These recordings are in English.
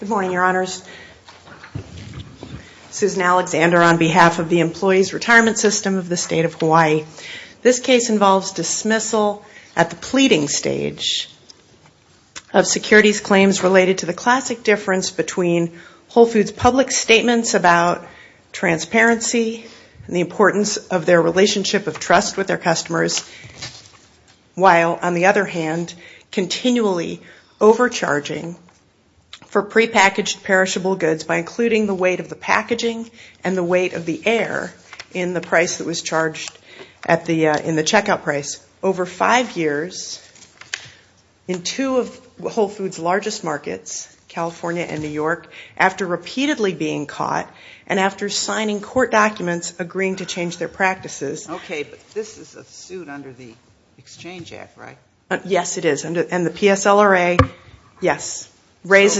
Good morning, Your Honors. Susan Alexander on behalf of the Employees Retirement System of the State of Hawaii. This case involves dismissal at the pleading stage of securities claims related to the classic difference between Whole Foods' public statements about transparency and the importance of their relationship of trust with their customers, while on the other hand continually overcharging for prepackaged perishable goods by including the weight of the packaging and the weight of the air in the price that was charged in the checkout price. Over five years in two of Whole Foods' largest markets, California and New York, after repeatedly being caught and after signing court documents agreeing to change their practices. This is a suit under the Exchange Act, right? Yes, it is. And the PSLRA, yes. What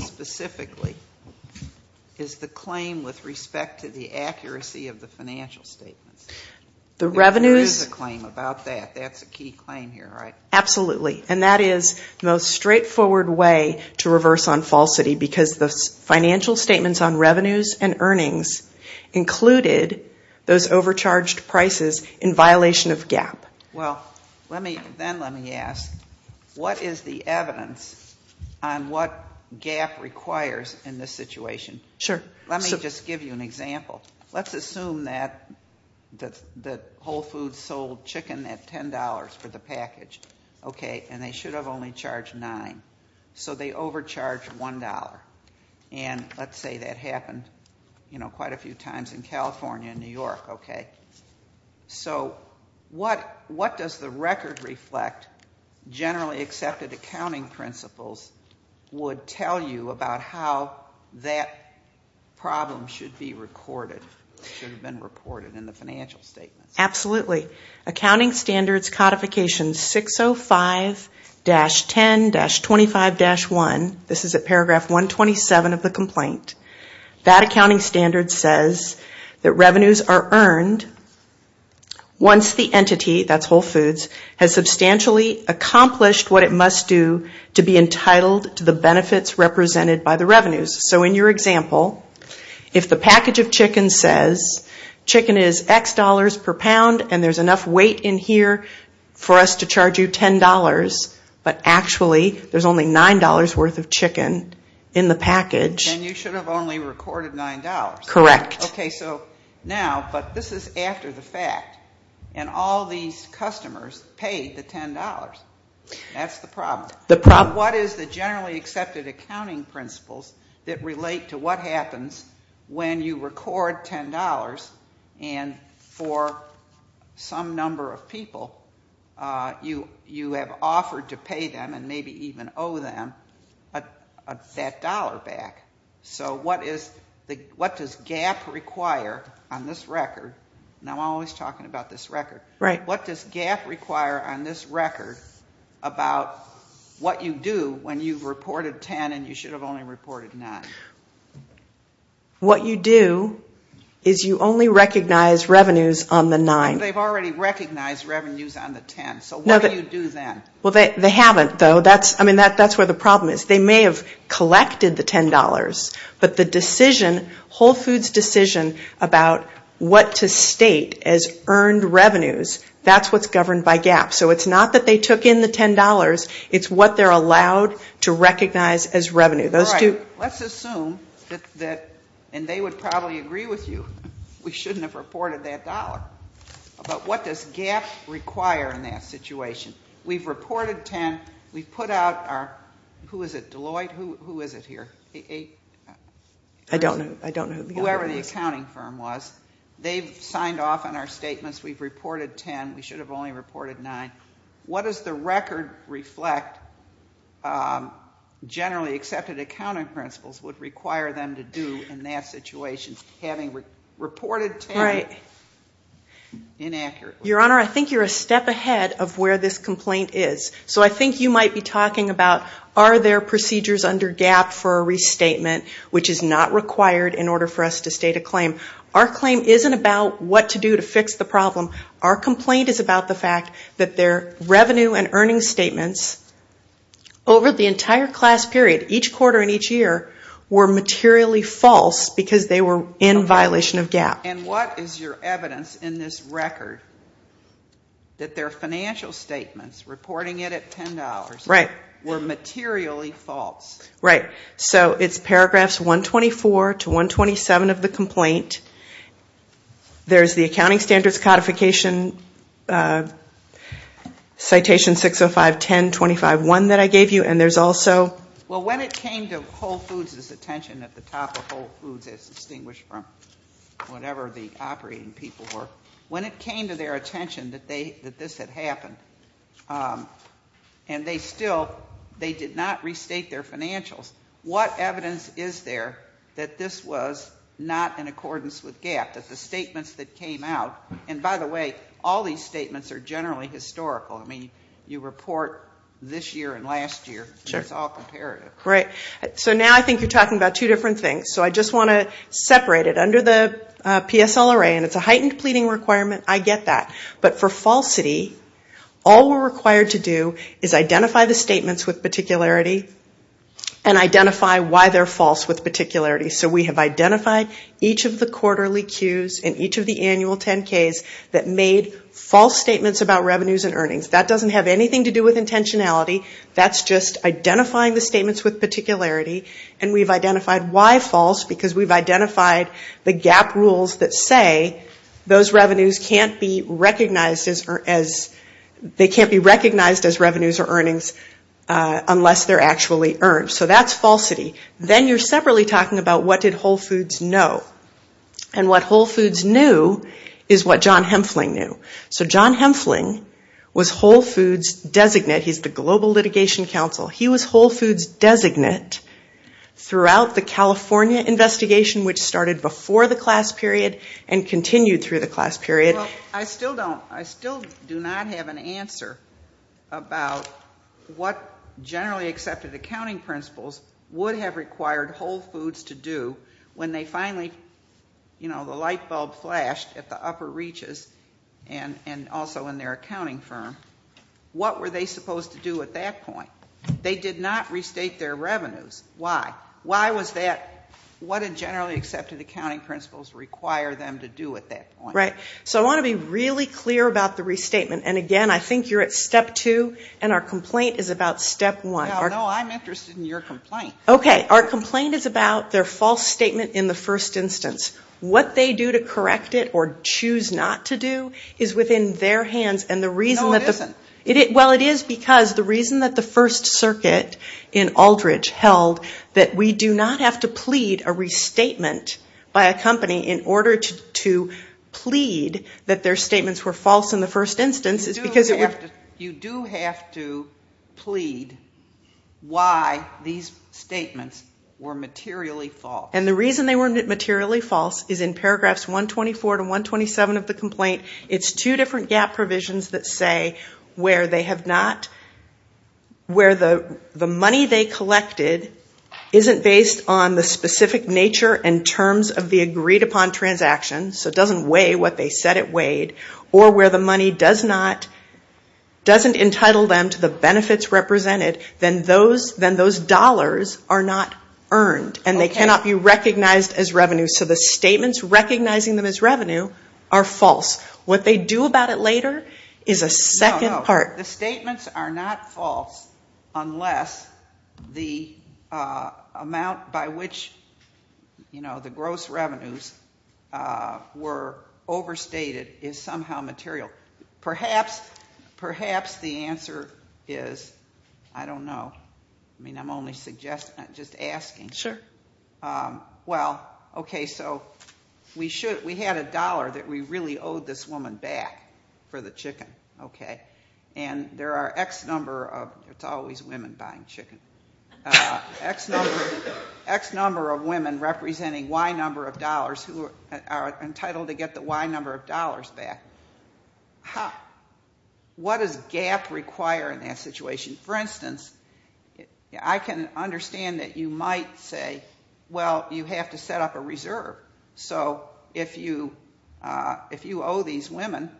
specifically is the claim with respect to the accuracy of the financial statements? There is a claim about that. That's a key claim here, right? Absolutely. And that is the most straightforward way to reverse on falsity, because the financial statements on revenues and earnings included those overcharged prices in violation of GAAP. Well, then let me ask, what is the evidence on what GAAP requires in this situation? Sure. Let me just give you an example. Let's assume that Whole Foods sold chicken at $10 for the package, and they should have only charged $9. So they overcharged $1. And let's say that happened quite a few times in California and New York. So what does the record reflect, generally accepted accounting principles, would tell you about how that problem should be recorded, should have been reported in the financial statements? Absolutely. Accounting Standards Codification 605-10-25-1, this is at Paragraph 127 of the complaint. That accounting standard says that revenues are earned once the entity, that's Whole Foods, has substantially accomplished what it must do to be entitled to the benefits represented by the revenues. So in your example, if the package of chicken says chicken is X dollars per pound and there's enough weight in here for us to charge you $10, but actually there's only $9 worth of chicken in the package. And you should have only recorded $9. Correct. Okay, so now, but this is after the fact. And all these customers paid the $10. That's the problem. What is the generally accepted accounting principles that relate to what happens when you record $10 and for some number of people, you have offered to pay them and maybe even owe them that dollar back. So what does GAAP require on this record? And I'm always talking about this record. What does GAAP require on this record about what you do when you've reported $10 and you should have only reported $9? What you do is you only recognize revenues on the $9. But they've already recognized revenues on the $10, so what do you do then? Well, they haven't, though. I mean, that's where the problem is. They may have collected the $10, but the decision, Whole Foods' decision about what to state as earned revenues, that's what's governed by GAAP. So it's not that they took in the $10. It's what they're allowed to recognize as revenue. All right. Let's assume that, and they would probably agree with you, we shouldn't have reported that dollar. But what does GAAP require in that situation? We've reported $10. We've put out our, who is it, Deloitte? Who is it here? I don't know. Whoever the accounting firm was. They've signed off on our statements. We've reported $10. We should have only reported $9. What does the record reflect? Generally accepted accounting principles would require them to do in that situation, having reported $10 inaccurately. Your Honor, I think you're a step ahead of where this complaint is. So I think you might be talking about, are there procedures under GAAP for a restatement, which is not required in order for us to state a claim? Our claim isn't about what to do to fix the problem. Our complaint is about the fact that their revenue and earnings statements over the entire class period, each quarter and each year, were materially false because they were in violation of GAAP. And what is your evidence in this record that their financial statements, reporting it at $10, were materially false? Right. So it's paragraphs 124 to 127 of the complaint. There's the accounting standards codification, citation 605-10-25-1 that I gave you, and there's also... Well, when it came to Whole Foods' attention at the top of Whole Foods, as distinguished from whatever the operating people were, when it came to their attention that this had happened, and they still, they did not restate their financials, what evidence is there that this was not in accordance with GAAP, that the statements that came out... And by the way, all these statements are generally historical. I mean, you report this year and last year, and it's all comparative. Right. So now I think you're talking about two different things. So I just want to separate it. Under the PSLRA, and it's a heightened pleading requirement, I get that. But for falsity, all we're required to do is identify the statements with particularity, and identify why they're false with particularity. So we have identified each of the quarterly cues in each of the annual 10-Ks that made false statements about revenues and earnings. That doesn't have anything to do with intentionality. That's just identifying the statements with particularity, and we've identified why false, because we've identified the GAAP rules that say those revenues can't be recognized as revenues or earnings unless they're actually earned. So that's falsity. Then you're separately talking about what did Whole Foods know. And what Whole Foods knew is what John Hempfling knew. So John Hempfling was Whole Foods' designate. He's the global litigation counsel. He was Whole Foods' designate throughout the California investigation, which started before the class period and continued through the class period. I still do not have an answer about what generally accepted accounting principles would have required Whole Foods to do when they finally, you know, the light bulb flashed at the upper reaches and also in their accounting firm. What were they supposed to do at that point? They did not restate their revenues. Why? Why was that? What did generally accepted accounting principles require them to do at that point? Right. So I want to be really clear about the restatement. And again, I think you're at step two, and our complaint is about step one. No, I'm interested in your complaint. Okay. Our complaint is about their false statement in the first instance. What they do to correct it or choose not to do is within their hands. No, it isn't. Well, it is because the reason that the First Circuit in Aldridge held that we do not have to plead a restatement by a company in order to plead that their statements were false in the first instance is because it would... You do have to plead why these statements were materially false. And the reason they weren't materially false is in paragraphs 124 to 127 of the complaint. It's two different GAAP provisions that say where they have not... Where the money they collected isn't based on the specific nature and terms of the agreed upon transaction, so it doesn't weigh what they said it weighed, or where the money doesn't entitle them to the benefits represented, then those dollars are not earned, and they cannot be recognized as revenue. So the statements recognizing them as revenue are false. What they do about it later is a second part. No, the statements are not false unless the amount by which the gross revenues were overstated is somehow material. Perhaps the answer is, I don't know. I mean, I'm only suggesting, just asking. Well, okay, so we had a dollar that we really owed this woman back for the chicken. And there are X number of... It's always women buying chicken. X number of women representing Y number of dollars who are entitled to get the Y number of dollars back. What does GAAP require in that situation? For instance, I can understand that you might say, well, you have to set up a reserve. So if you owe these women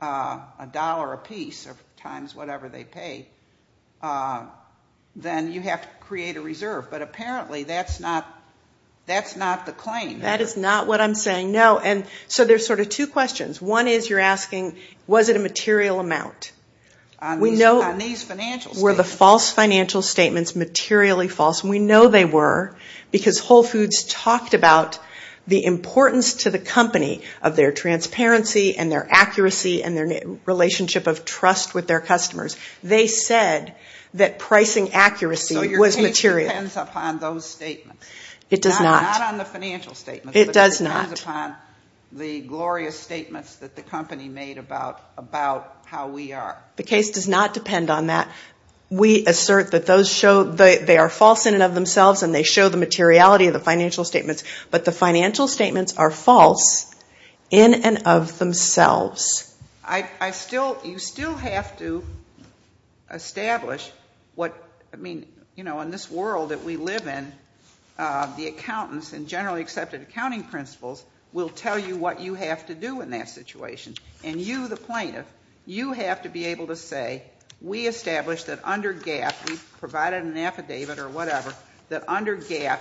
a dollar apiece or times whatever they pay, then you have to create a reserve. But apparently that's not the claim. That is not what I'm saying, no. So there's sort of two questions. One is you're asking, was it a material amount? Were the false financial statements materially false? And we know they were, because Whole Foods talked about the importance to the company of their transparency and their accuracy and their relationship of trust with their customers. They said that pricing accuracy was material. So your case depends upon those statements. It does not. It depends upon the glorious statements that the company made about how we are. The case does not depend on that. We assert that they are false in and of themselves and they show the materiality of the financial statements. But the financial statements are false in and of themselves. I still, you still have to establish what, I mean, you know, in this world that we live in, the accountants and generally accepted accounting principals will tell you what you have to do in that situation. And you, the plaintiff, you have to be able to say, we established that under GAAP, we provided an affidavit or whatever, that under GAAP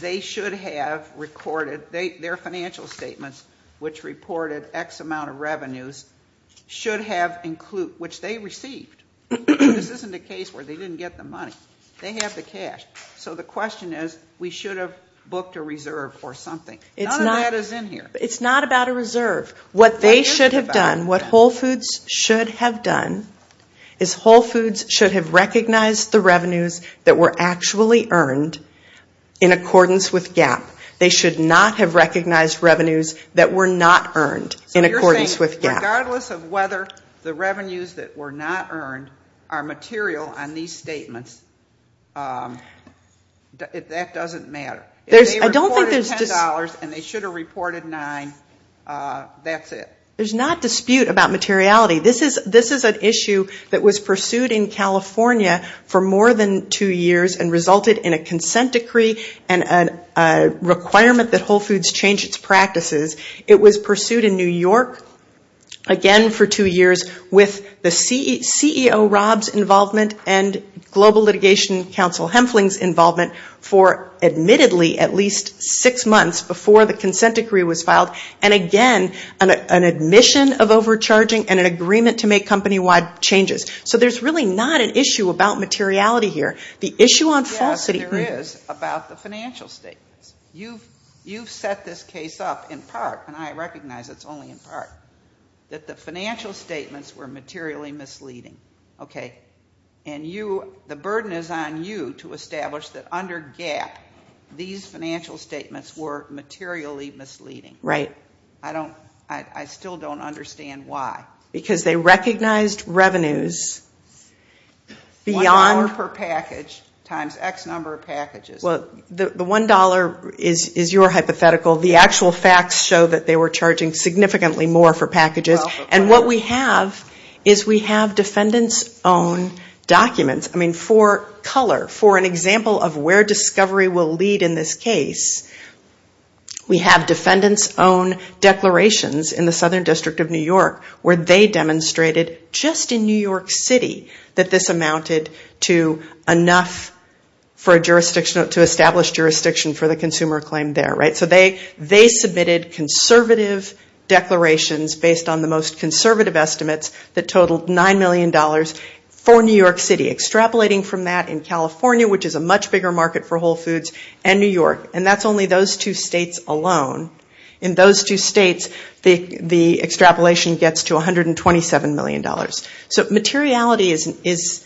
they should have recorded, their financial statements, which reported X amount of revenues, should have include, which they received. This isn't a case where they didn't get the money. They have the cash. So the question is, we should have booked a reserve or something. None of that is in here. It's not about a reserve. What they should have done, what Whole Foods should have done, is Whole Foods should have recognized the revenues that were actually earned in accordance with GAAP. They should not have recognized revenues that were not earned in accordance with GAAP. Regardless of whether the revenues that were not earned are material on these statements, that doesn't matter. If they reported $10 and they should have reported $9, that's it. There's not dispute about materiality. This is an issue that was pursued in California for more than two years and resulted in a consent decree and a requirement that Whole Foods change its practices. It was pursued in New York, again for two years, with the CEO Rob's involvement and Global Litigation Council Hempfling's involvement for, admittedly, at least six months before the consent decree was filed. Again, an admission of overcharging and an agreement to make company-wide changes. So there's really not an issue about materiality here. The issue on falsity... Yes, there is, about the financial statements. You've set this case up in part, and I recognize it's only in part, that the financial statements were materially misleading. The burden is on you to establish that under GAAP, these financial statements were materially misleading. I still don't understand why. $1 per package times X number of packages. The $1 is your hypothetical. The actual facts show that they were charging significantly more for packages, and what we have is we have defendants' own documents. For color, for an example of where discovery will lead in this case, we have defendants' own declarations in the Southern District of New York where they demonstrated, just in New York City, that this amounted to enough to establish jurisdiction for the consumer claim there. So they submitted conservative declarations based on the most conservative estimates that totaled $9 million for New York City, extrapolating from that in California, which is a much bigger market for Whole Foods, and New York. And that's only those two states alone. In those two states, the extrapolation gets to $127 million. So materiality is...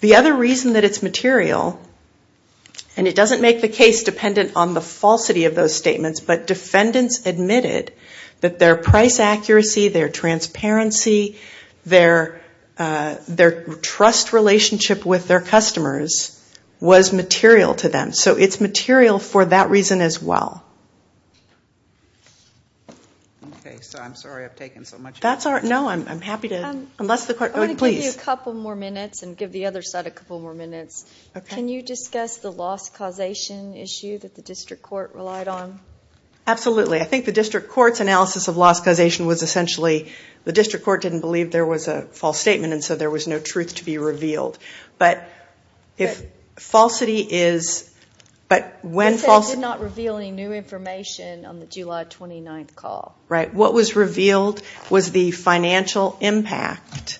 The other reason that it's material, and it doesn't make the case dependent on the falsity of those statements, but defendants admitted that their price accuracy, their transparency, their trust relationship with their customers was material to them. So it's material for that reason as well. Okay, so I'm sorry I've taken so much. I'm going to give you a couple more minutes and give the other side a couple more minutes. Can you discuss the loss causation issue that the district court relied on? Absolutely. I think the district court's analysis of loss causation was essentially, the district court didn't believe there was a false statement and so there was no truth to be revealed. But if falsity is... You said it did not reveal any new information on the July 29th call. Right. What was revealed was the financial impact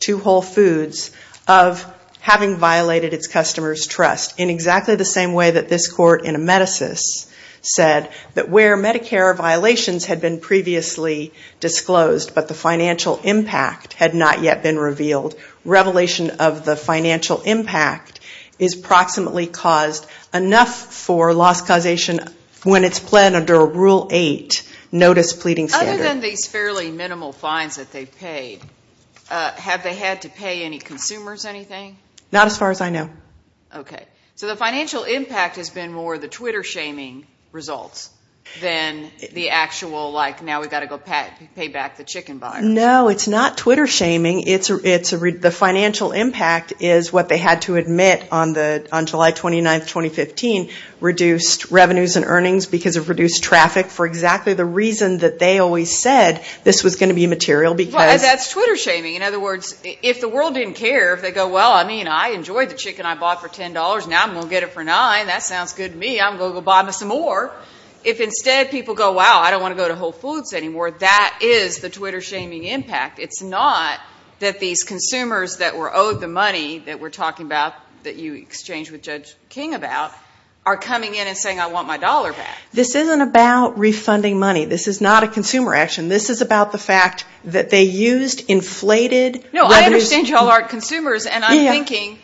to Whole Foods of having violated its customers' trust, in exactly the same way that this court in a metasys said that where Medicare violations had been previously disclosed, but the financial impact had not yet been revealed. Revelation of the financial impact is approximately caused enough for loss causation when it's planned under Rule 8, Notice Pleading Standard. Other than these fairly minimal fines that they've paid, have they had to pay any consumers anything? Not as far as I know. Okay. So the financial impact has been more the Twitter shaming results than the actual, like, now we've got to go pay back the chicken buyers. No, it's not Twitter shaming. The financial impact is what they had to admit on July 29th, 2015, reduced revenues and earnings because of reduced traffic for exactly the reason that they always said this was going to be material because... Now I'm going to get it for nine. That sounds good to me. I'm going to go buy me some more. If instead people go, wow, I don't want to go to Whole Foods anymore, that is the Twitter shaming impact. It's not that these consumers that were owed the money that we're talking about, that you exchanged with Judge King about, are coming in and saying, I want my dollar back. This isn't about refunding money. This is not a consumer action. This is about the fact that they used inflated revenues... No, I understand y'all aren't consumers, and I'm thinking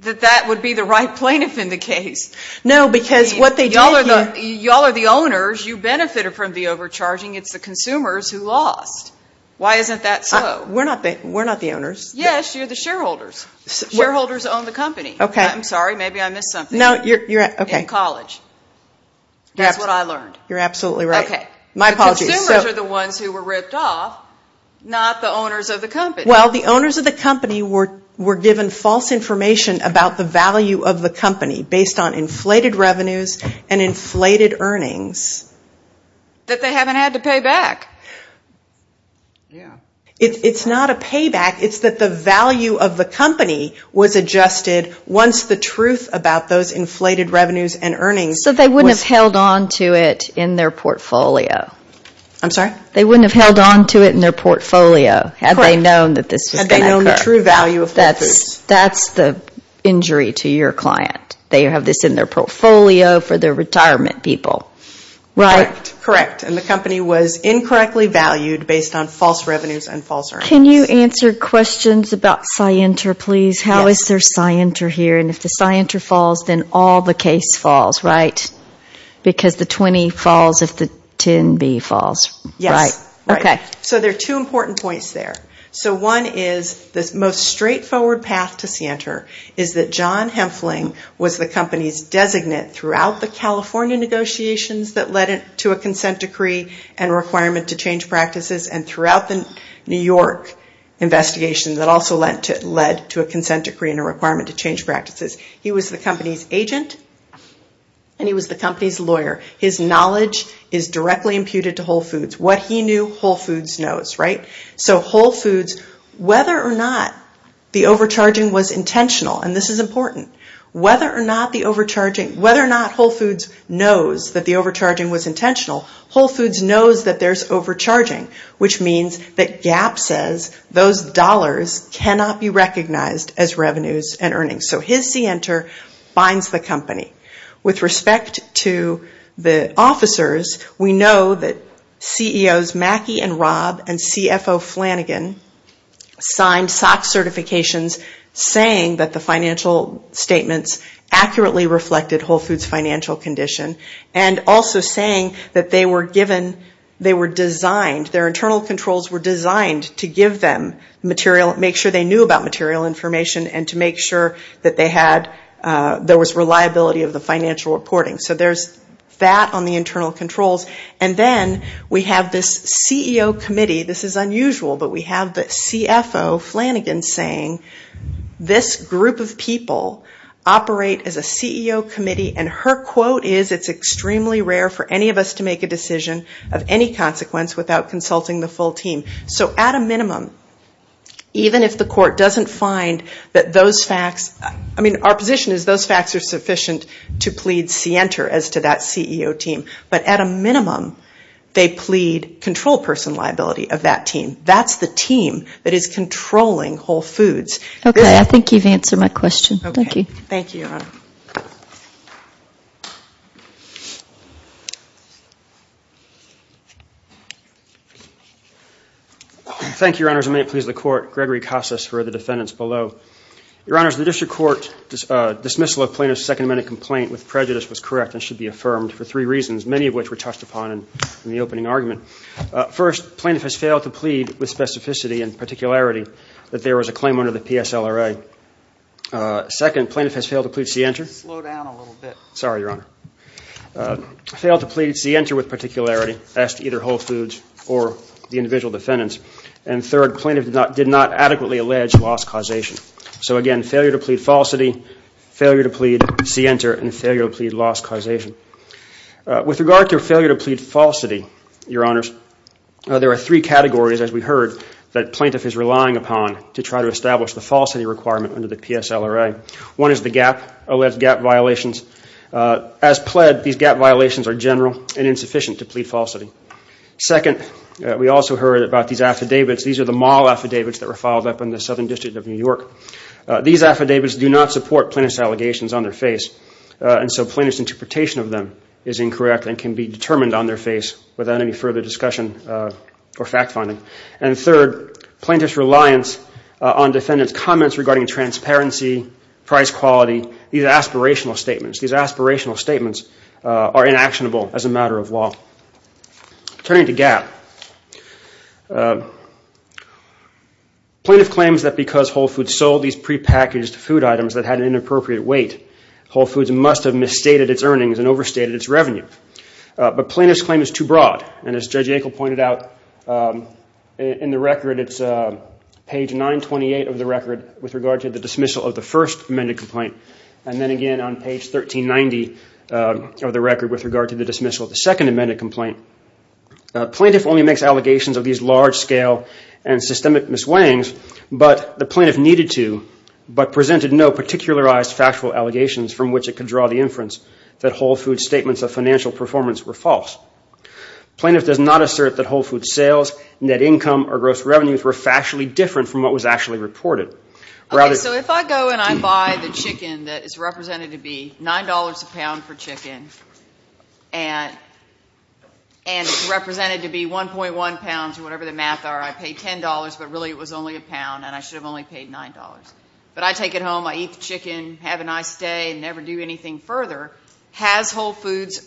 that that would be the right plaintiff in the case. No, because what they did here... Y'all are the owners. You benefited from the overcharging. It's the consumers who lost. Why isn't that so? We're not the owners. Yes, you're the shareholders. Shareholders own the company. I'm sorry. Maybe I missed something in college. That's what I learned. You're absolutely right. My apologies. Well, the owners of the company were given false information about the value of the company based on inflated revenues and inflated earnings. That they haven't had to pay back. It's not a payback. It's that the value of the company was adjusted once the truth about those inflated revenues and earnings... So they wouldn't have held on to it in their portfolio. I'm sorry? They wouldn't have held on to it in their portfolio had they known that this was going to occur. Had they known the true value of Whole Foods. That's the injury to your client. They have this in their portfolio for their retirement people, right? Correct. And the company was incorrectly valued based on false revenues and false earnings. Can you answer questions about Scienter, please? How is there Scienter here? And if the Scienter falls, then all the case falls, right? Because the 20 falls if the 10B falls, right? So there are two important points there. So one is the most straightforward path to Scienter is that John Hempfling was the company's designate throughout the California negotiations that led to a consent decree and requirement to change practices and throughout the New York investigation that also led to a consent decree and a requirement to change practices. He was the company's agent and he was the company's lawyer. His knowledge is directly imputed to Whole Foods. What he knew, Whole Foods knows, right? So Whole Foods, whether or not the overcharging was intentional, and this is important, whether or not Whole Foods knows that the overcharging was intentional, Whole Foods knows that there's overcharging, which means that Gap says those dollars cannot be recognized as revenues and earnings. So his Scienter binds the company. With respect to the officers, we know that CEOs Mackey and Robb and CFO Flanagan signed SOX certifications saying that the financial statements accurately reflected Whole Foods financial condition and also saying that they were given, they were designed, their internal controls were designed to give them material, make sure they knew about material information and to make sure that they had, there was reliability of the financial reporting. So there's that on the internal controls. And then we have this CEO committee, this is unusual, but we have the CFO Flanagan saying, this group of people operate as a CEO committee and her quote is, it's extremely rare for any of us to make a decision of any consequence without consulting the full team. So at a minimum, even if the court doesn't find that those facts, I mean, our position is those facts are sufficient to plead Scienter as to that CEO team. But at a minimum, they plead control person liability of that team. That's the team that is controlling Whole Foods. Thank you, Your Honor. Thank you, Your Honor. May it please the court. Gregory Casas for the defendants below. Your Honor, the district court dismissal of plaintiff's second minute complaint with prejudice was correct and should be affirmed for three reasons, many of which were touched upon in the opening argument. First, plaintiff has failed to plead with specificity and particularity that there was a claim under the PSLRA. Second, plaintiff has failed to plead Scienter. Slow down a little bit. Sorry, Your Honor. Failed to plead Scienter with particularity as to either Whole Foods or the individual defendants. And third, plaintiff did not adequately allege loss causation. So again, failure to plead falsity, failure to plead Scienter and failure to plead loss causation. With regard to failure to plead falsity, Your Honors, there are three categories, as we One is the GAP, alleged GAP violations. As pled, these GAP violations are general and insufficient to plead falsity. Second, we also heard about these affidavits. These are the mall affidavits that were filed up in the Southern District of New York. These affidavits do not support plaintiff's allegations on their face. And so plaintiff's interpretation of them is incorrect and can be determined on their face without any further discussion or fact finding. And third, plaintiff's reliance on defendant's comments regarding transparency, price quality, these aspirational statements. These aspirational statements are inactionable as a matter of law. Turning to GAP, plaintiff claims that because Whole Foods sold these prepackaged food items that had an inappropriate weight, Whole Foods must have misstated its earnings and overstated its revenue. But plaintiff's claim is too in the record, it's page 928 of the record with regard to the dismissal of the first amended complaint. And then again on page 1390 of the record with regard to the dismissal of the second amended complaint. Plaintiff only makes allegations of these large scale and systemic misweighings, but the plaintiff needed to, but presented no particularized factual allegations from which it could draw the inference that Whole Foods statements of financial performance were false. Plaintiff does not assert that Whole Foods sales, net income, or gross revenues were factually different from what was actually reported. Okay, so if I go and I buy the chicken that is represented to be $9 a pound for chicken, and it's represented to be 1.1 pounds or whatever the math are, I pay $10, but really it was only a pound and I should have only paid $9. But I take it home, I eat the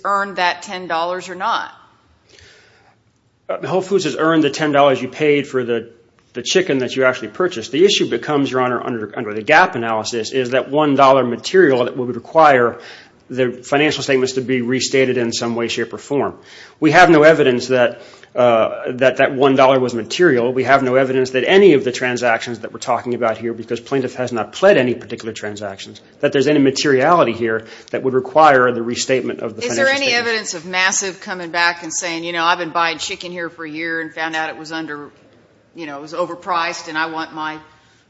that $10 or not? Whole Foods has earned the $10 you paid for the chicken that you actually purchased. The issue becomes, Your Honor, under the gap analysis, is that $1 material that would require the financial statements to be restated in some way, shape, or form. We have no evidence that that $1 was material. We have no evidence that any of the transactions that we're talking about here, because plaintiff has not pled any particular transactions, that there's any materiality here that would require the restatement of the financial statements. Is there any evidence of massive coming back and saying, you know, I've been buying chicken here for a year and found out it was under, you know, it was overpriced and I want my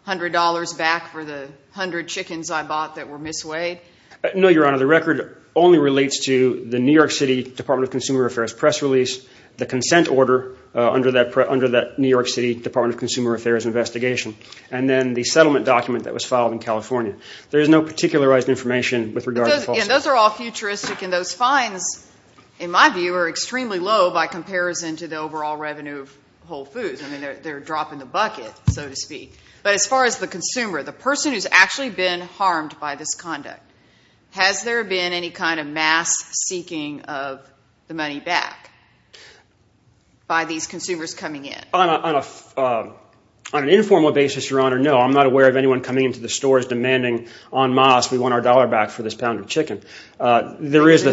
$100 back for the 100 chickens I bought that were misweighed? No, Your Honor, the record only relates to the New York City Department of Consumer Affairs press release, the consent order under that New York City Department of Consumer Affairs investigation, and then the settlement document that was filed in California. There is no particularized information with regard to falsehoods. Those are all futuristic and those fines, in my view, are extremely low by comparison to the overall revenue of Whole Foods. I mean, they're dropping the bucket, so to speak. But as far as the consumer, the person who's actually been harmed by this conduct, has there been any kind of mass seeking of the money back by these consumers coming in? On an informal basis, Your Honor, no. I'm not aware of anyone coming into the stores demanding on mass we want our dollar back for this pound of chicken. There is the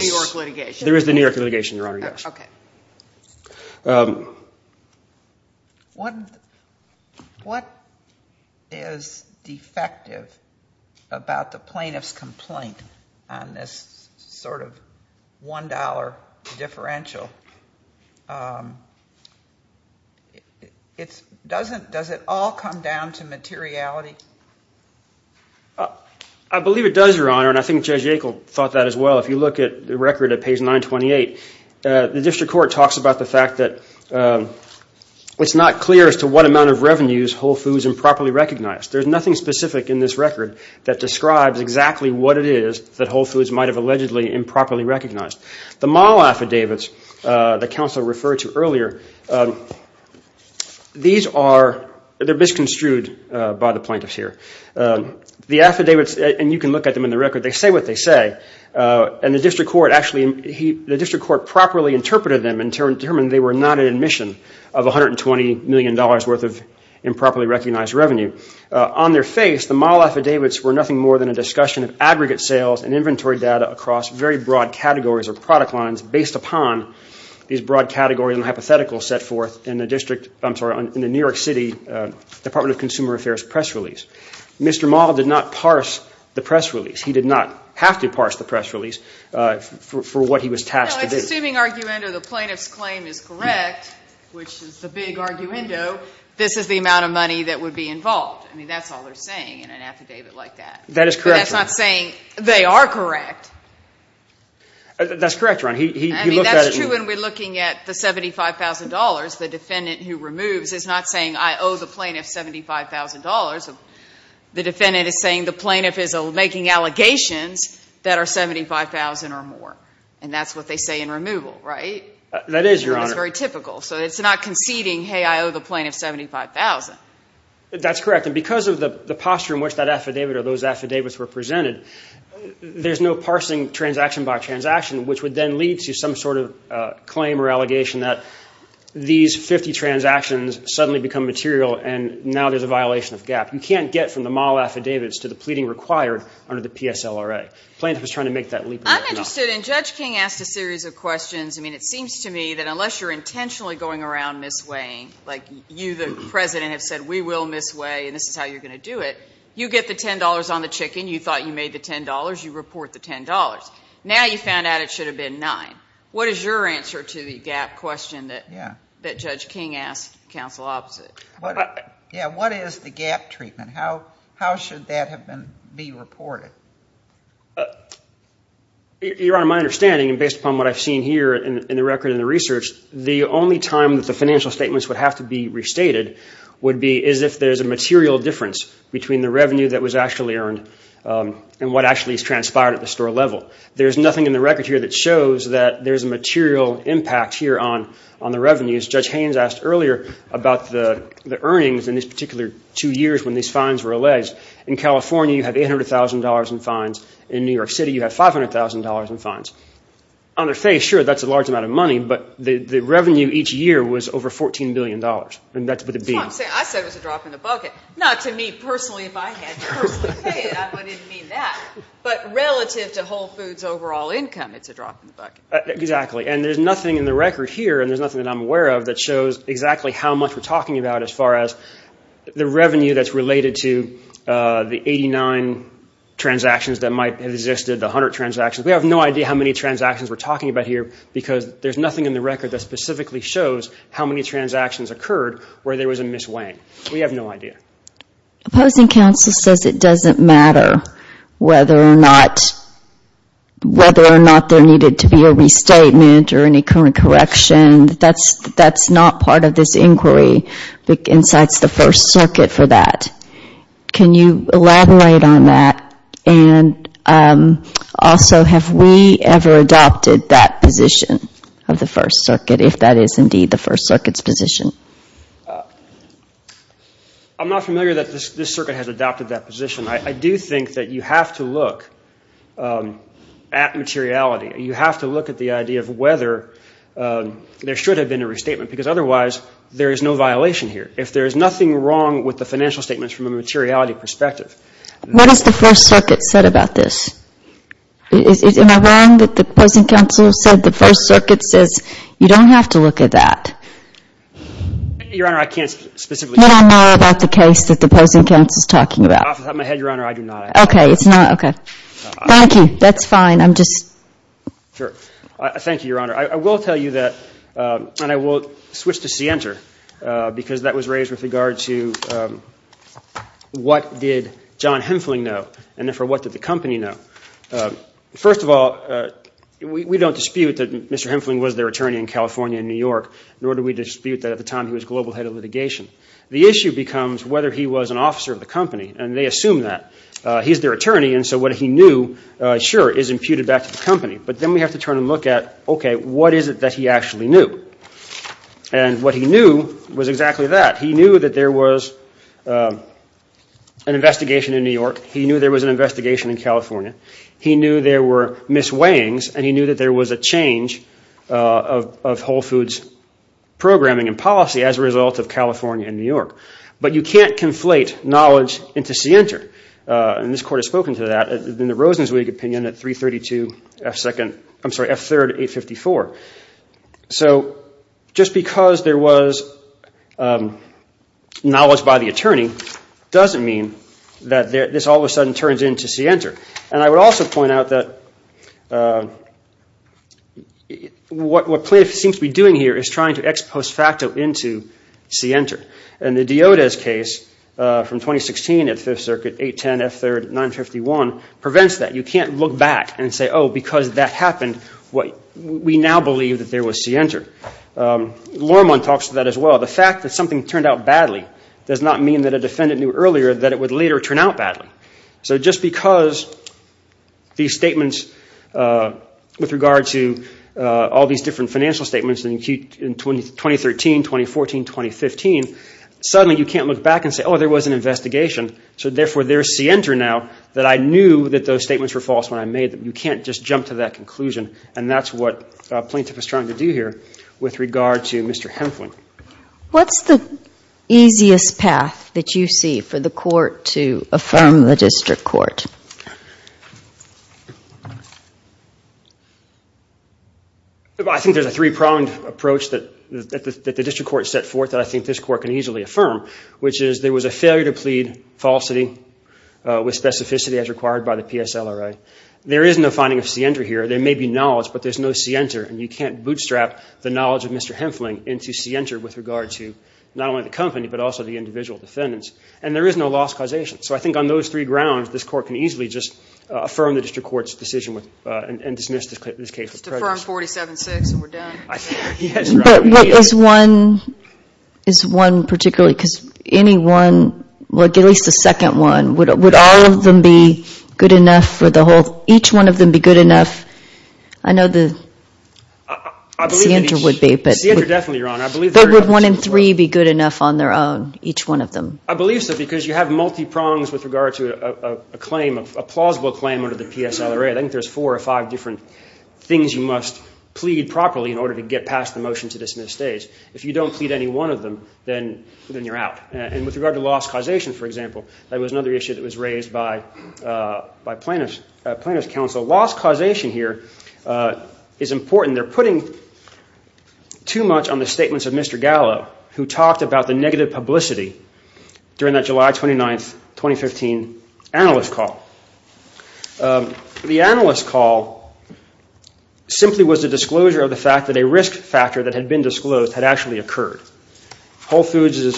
New York litigation, Your Honor, yes. What is defective about the deferential? Does it all come down to materiality? I believe it does, Your Honor, and I think Judge Yackel thought that as well. If you look at the record at page 928, the district court talks about the fact that it's not clear as to what amount of revenues Whole Foods improperly recognized. There's nothing specific in this record that describes exactly what it is that Whole Foods might have allegedly improperly recognized. The mall affidavits that counsel referred to earlier, these are, they're misconstrued by the plaintiffs here. The affidavits, and you can look at them in the record, they say what they say, and the district court actually, the district court properly interpreted them and determined they were not an admission of $120 million worth of aggregate sales and inventory data across very broad categories or product lines based upon these broad categories and hypotheticals set forth in the district, I'm sorry, in the New York City Department of Consumer Affairs press release. Mr. Maul did not parse the press release. He did not have to parse the press release for what he was tasked with. No, it's assuming arguendo the plaintiff's claim is correct, which is the big arguendo, this is the amount of money that would be involved. I mean, that's all they're saying in an affidavit like that. That is correct. But that's not saying they are correct. That's correct, Ron. I mean, that's true when we're looking at the $75,000. The defendant who removes is not saying I owe the plaintiff $75,000. The defendant is saying the plaintiff is making allegations that are $75,000 or more. And that's what they say in removal, right? That is, Your Honor. It's very typical. So it's not conceding, hey, I owe the plaintiff $75,000. That's correct. And because of the posture in which that affidavit or those affidavits were presented, there's no parsing transaction by transaction, which would then lead to some sort of claim or allegation that these 50 transactions suddenly become material and now there's a violation of GAAP. You can't get from the Maul affidavits to the pleading required under the PSLRA. The plaintiff is trying to make that leap. I'm interested, and Judge King asked a series of questions. I mean, it seems to me that unless you're intentionally going around misweighing, like you, the President, have said we will misweigh and this is how you're going to do it, you get the $10 on the chicken. You thought you made the $10. You report the $10. Now you found out it should have been $9. What is your answer to the GAAP question that Judge King asked counsel opposite? Yeah, what is the GAAP treatment? How should that have been reported? Your Honor, my understanding, and based upon what I've seen here in the record and the research, the only time that the financial statements would have to be restated would be as if there's a material difference between the revenue that was actually earned and what actually transpired at the store level. There's nothing in the record here that shows that there's a difference in the earnings in this particular two years when these fines were alleged. In California, you have $800,000 in fines. In New York City, you have $500,000 in fines. On their face, sure, that's a large amount of money, but the revenue each year was over $14 billion, and that's what it would be. I said it was a drop in the bucket. Not to me personally, if I had to personally pay it. I didn't mean that. But relative to Whole Foods' overall income, it's a drop in the bucket. Exactly, and there's nothing in the record here, and there's nothing that I'm aware of, that shows exactly how much we're talking about as far as the revenue that's related to the 89 transactions that might have existed, the 100 transactions. We have no idea how many transactions we're talking about here because there's nothing in the record that specifically shows how many transactions occurred where there was a misweighing. We have no idea. Opposing counsel says it doesn't matter whether or not there needed to be a restatement or any kind of correction. That's not part of this inquiry. It incites the First Circuit for that. Can you elaborate on that? Also, have we ever adopted that position of the First Circuit, if that is indeed the First Circuit's position? I'm not familiar that this Circuit has adopted that position. I do think that you have to look at materiality. You have to look at the idea of whether there should have been a restatement, because otherwise there is no violation here. If there is nothing wrong with the financial statements from a materiality perspective. What has the First Circuit said about this? Am I wrong that the opposing counsel said the First Circuit says you don't have to look at that? Your Honor, I can't specifically tell you. What I know about the case that the opposing counsel is talking about. Off the top of my head, Your Honor, I do not. Okay. Thank you. That's fine. Thank you, Your Honor. I will tell you that, and I will switch to CNTR, because that was raised with regard to what did John Hemphling know, and therefore what did the company know? First of all, we don't dispute that Mr. Hemphling was their attorney in California and New York, nor do we dispute that at the time he was global head of litigation. The issue becomes whether he was an officer of the company, and they assume that. He is their attorney, and so what he knew, sure, is imputed back to the company. But then we have to turn and look at, okay, what is it that he actually knew? And what he knew was exactly that. He knew that there was an investigation in New York. He knew there was an investigation in California. He knew there were misweighings, and he knew that there was a change of Whole Foods programming and policy as a result of California and New York. But you can't conflate knowledge into CNTR. And this Court has spoken to that in the Rosenzweig opinion at 332 F2nd I'm sorry, F3rd 854. So just because there was knowledge by the attorney doesn't mean that this all of a sudden turns into CNTR. And I would also point out that what plaintiff seems to be doing here is trying to ex post facto into CNTR. And the Diodas case from 2016 at 5th Circuit, 810 F3rd 951, prevents that. You can't look back and say, oh, because that happened, we now believe that there was CNTR. Lorman talks to that as well. The fact that something turned out badly does not mean that a defendant knew earlier that it would later turn out badly. So just because these statements with regard to all these different financial statements in 2013, 2014, 2015, suddenly you can't look back and say, oh, there was an investigation, so therefore there's CNTR now that I knew that those statements were false when I made them. You can't just jump to that conclusion. And that's what plaintiff is trying to do here with regard to Mr. Henflin. What's the easiest path that you see for the Court to affirm the District Court? I think there's a three-pronged approach that the District Court set forth that I think this Court can easily affirm, which is there was a failure to plead falsity with specificity as required by the PSLRA. There is no finding of CNTR here. There may be knowledge, but there's no CNTR. And you can't bootstrap the knowledge of Mr. Henflin into CNTR with regard to not only the company but also the individual defendants. And there is no loss causation. So I think on those three grounds, this Court can affirm that. But is one particularly, because any one, at least a second one, would all of them be good enough for the whole, each one of them be good enough? I know the CNTR would be, but would one in three be good enough on their own, each one of them? I believe so, because you have multi-prongs with regard to a claim, a plausible claim under the PSLRA. I think there's four or five different things you must plead properly in order to get past the motion to dismiss stays. If you don't plead any one of them, then you're out. And with regard to loss causation, for example, that was another issue that was raised by plaintiffs' counsel. Loss causation here is important. They're putting too much on the statements of Mr. Gallo, who talked about the negative publicity during that 29th, 2015 analyst call. The analyst call simply was the disclosure of the fact that a risk factor that had been disclosed had actually occurred. Whole Foods'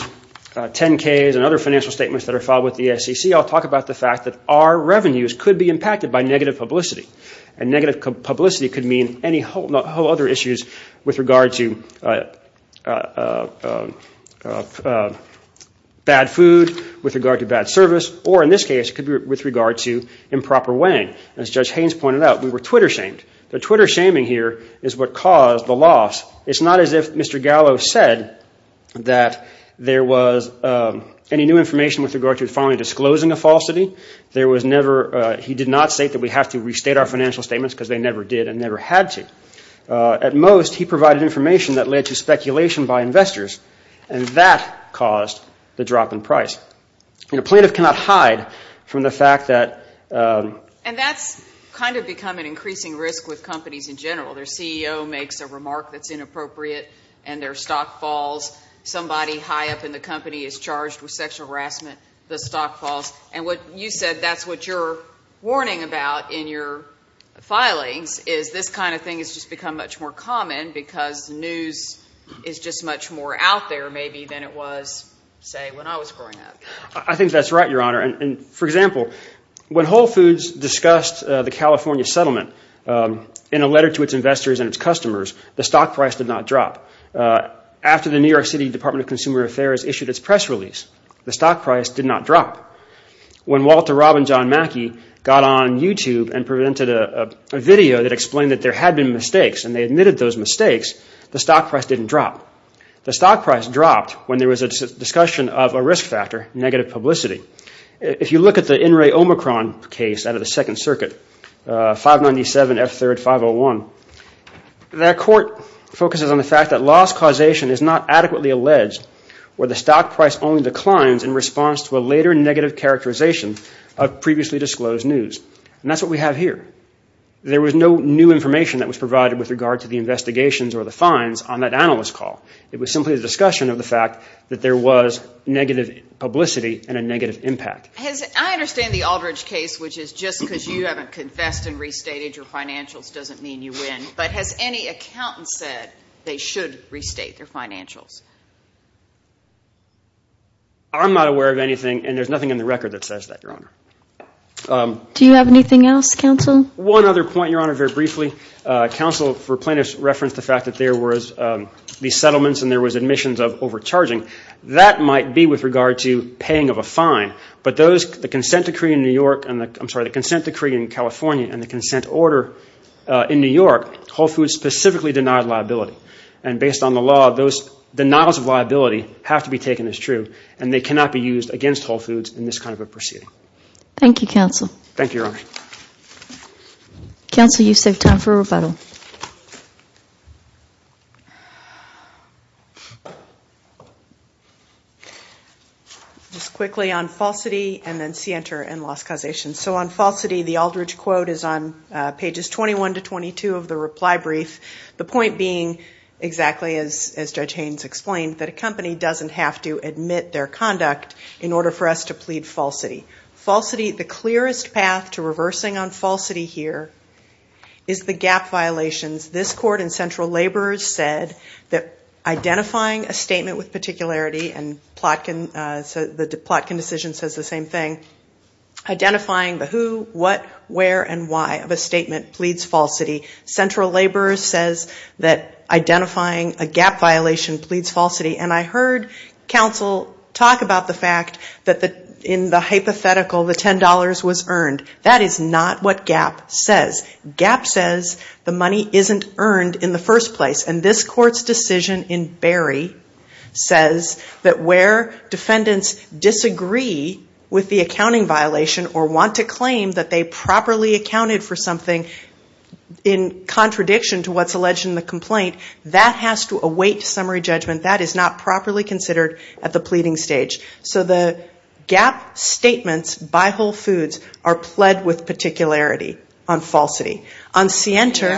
10-Ks and other financial statements that are filed with the SEC all talk about the fact that our revenues could be impacted by negative publicity. And negative publicity could mean any whole other with regard to bad service, or in this case, could be with regard to improper weighing. As Judge Haynes pointed out, we were Twitter shamed. The Twitter shaming here is what caused the loss. It's not as if Mr. Gallo said that there was any new information with regard to finally disclosing a falsity. He did not say that we have to restate our financial statements because they never did and never had to. At most, he provided information that led to speculation by investors, and that caused the drop in price. A plaintiff cannot hide from the fact that... And that's kind of become an increasing risk with companies in general. Their CEO makes a remark that's inappropriate and their stock falls. Somebody high up in the company is charged with sexual harassment, the stock falls. And what you said, that's what you're warning about in your filings, is this kind of thing has just become much more common because news is just much more out there maybe than it was, say, when I was growing up. I think that's right, Your Honor. And for example, when Whole Foods discussed the California settlement in a letter to its investors and its customers, the stock price did not drop. After the New York City Department of Consumer Affairs issued its press release, the stock price did not drop. When Walter Robin John Mackey got on YouTube and presented a video that explained that there had been mistakes and they admitted those mistakes, the stock price didn't drop. The stock price dropped when there was a discussion of a risk factor, negative publicity. If you look at the In re Omicron case out of the Second Circuit, 597 F3, 501, that court focuses on the fact that loss causation is not adequately alleged, where the stock price only declines in response to a later negative characterization of previously disclosed news. And that's what we have here. There was no new information that was provided with regard to the investigations or the fines on that analyst call. It was simply a discussion of the fact that there was negative publicity and a negative impact. I understand the Aldridge case, which is just because you haven't confessed and restated your financials doesn't mean you win. But has any accountant said they should restate their financials? I'm not aware of anything, and there's nothing in the record that says that, Your Honor. Do you have anything else, Counsel? One other point, Your Honor, very briefly. Counsel, for plaintiffs, referenced the fact that there was these settlements and there was admissions of overcharging. That might be with regard to paying of a fine, but the consent decree in California and the consent order in New York, Whole Foods specifically denied liability. And based on the law, those denials of liability have to be taken as true, and they cannot be used against Whole Foods in this kind of a proceeding. Thank you, Counsel. Just quickly on falsity and then scienter and lost causation. So on falsity, the Aldridge quote is on pages 21 to 22 of the reply brief, the point being exactly as Judge Haynes explained, that a company doesn't have to admit their conduct in order for us to plead falsity. The clearest path to reversing on falsity here is the gap violations. This Court and central laborers said that identifying a statement with particularity, and the Plotkin decision says the same thing, identifying the who, what, where and why of a statement pleads falsity. Central laborers says that identifying a gap violation pleads falsity. And I heard Counsel talk about the fact that in the hypothetical, the $10 was earned. That is not what gap says. Gap says the money isn't earned in the first place. And this Court's decision in Berry says that where defendants disagree with the accounting violation or want to claim that they properly accounted for something in contradiction to what's alleged in the complaint, that has to await summary judgment. That is not properly considered at the pleading stage. So the gap statements by Whole Foods are pled with particularity on falsity. On CNTER.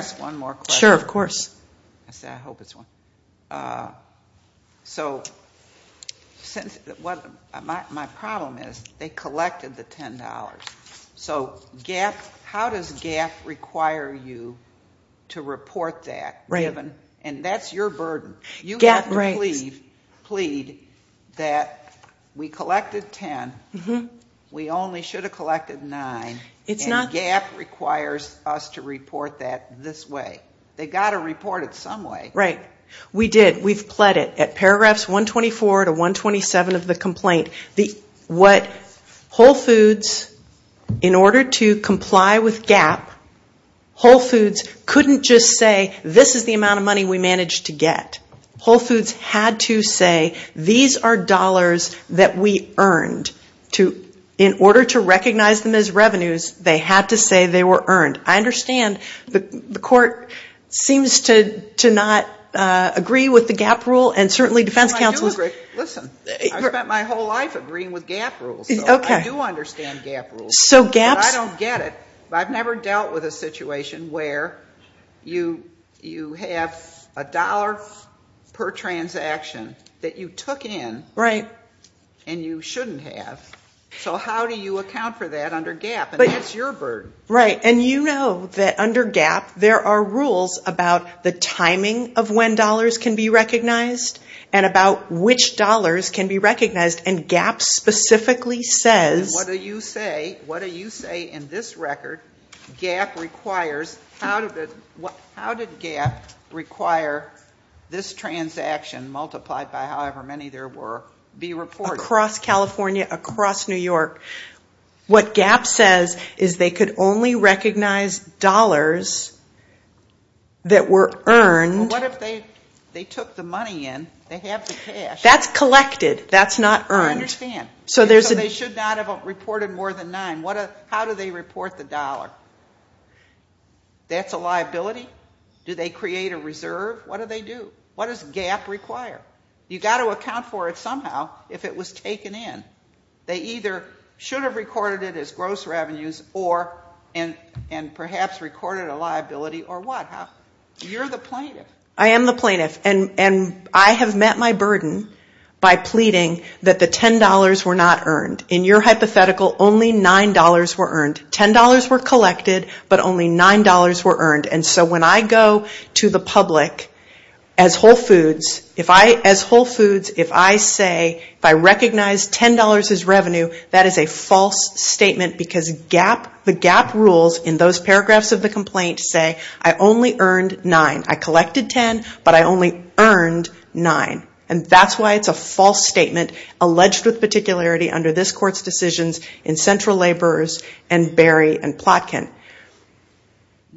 My problem is they collected the $10. So how does gap require you to report that? And that's your burden. You have to plead that we collected $10, we only should have collected $9, and gap requires us to report that this way. They've got to report it some way. We've pled it at paragraphs 124 to 127 of the complaint. Whole Foods, in order to comply with gap, couldn't just say this is the amount of money we managed to get. Whole Foods had to say these are dollars that we earned. In order to recognize them as revenues, they had to say they were earned. I understand the Court seems to not agree with the gap rule, and certainly defense counsels. I spent my whole life agreeing with gap rules. I do understand gap rules, but I don't get it. I've never dealt with a situation where you have a dollar per transaction that you took in and you shouldn't have. So how do you account for that under gap? And that's your burden. And you know that under gap there are rules about the timing of when dollars can be recognized and about which dollars can be recognized. And gap specifically says... What do you say in this record? How did gap require this transaction multiplied by however many there were be reported? Across California, across New York. What gap says is they could only recognize dollars that were earned... I understand. So they should not have reported more than nine. How do they report the dollar? That's a liability? Do they create a reserve? What do they do? What does gap require? You've got to account for it somehow if it was taken in. They either should have recorded it as gross revenues and perhaps recorded a liability or what? You're the plaintiff. I am the plaintiff. And I have met my burden by pleading that the $10 were not earned. In your hypothetical, only $9 were earned. $10 were collected, but only $9 were earned. And so when I go to the public as Whole Foods, if I say, if I recognize $10 as revenue, that is a false statement. Because the gap rules in those paragraphs of the complaint say, I only earned $9. I collected $10, but I only earned $9. And that's why it's a false statement alleged with particularity under this court's decisions in Central Laborers and Berry and Plotkin.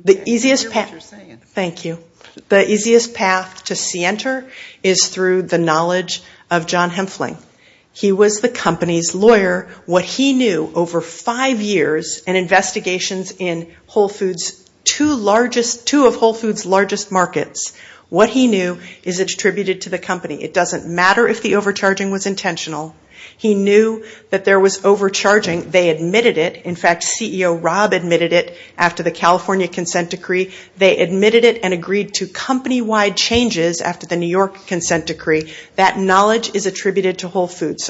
The easiest path to see enter is through the knowledge of John Hemphling. He was the company's lawyer. What he knew over five years in investigations in two of Whole Foods' largest markets, what he knew is attributed to the company. It doesn't matter if the overcharging was intentional. He knew that there was overcharging. They admitted it. In fact, CEO Rob admitted it after the California consent decree. They admitted it and agreed to company-wide changes after the New York consent decree. That knowledge is attributed to Whole Foods.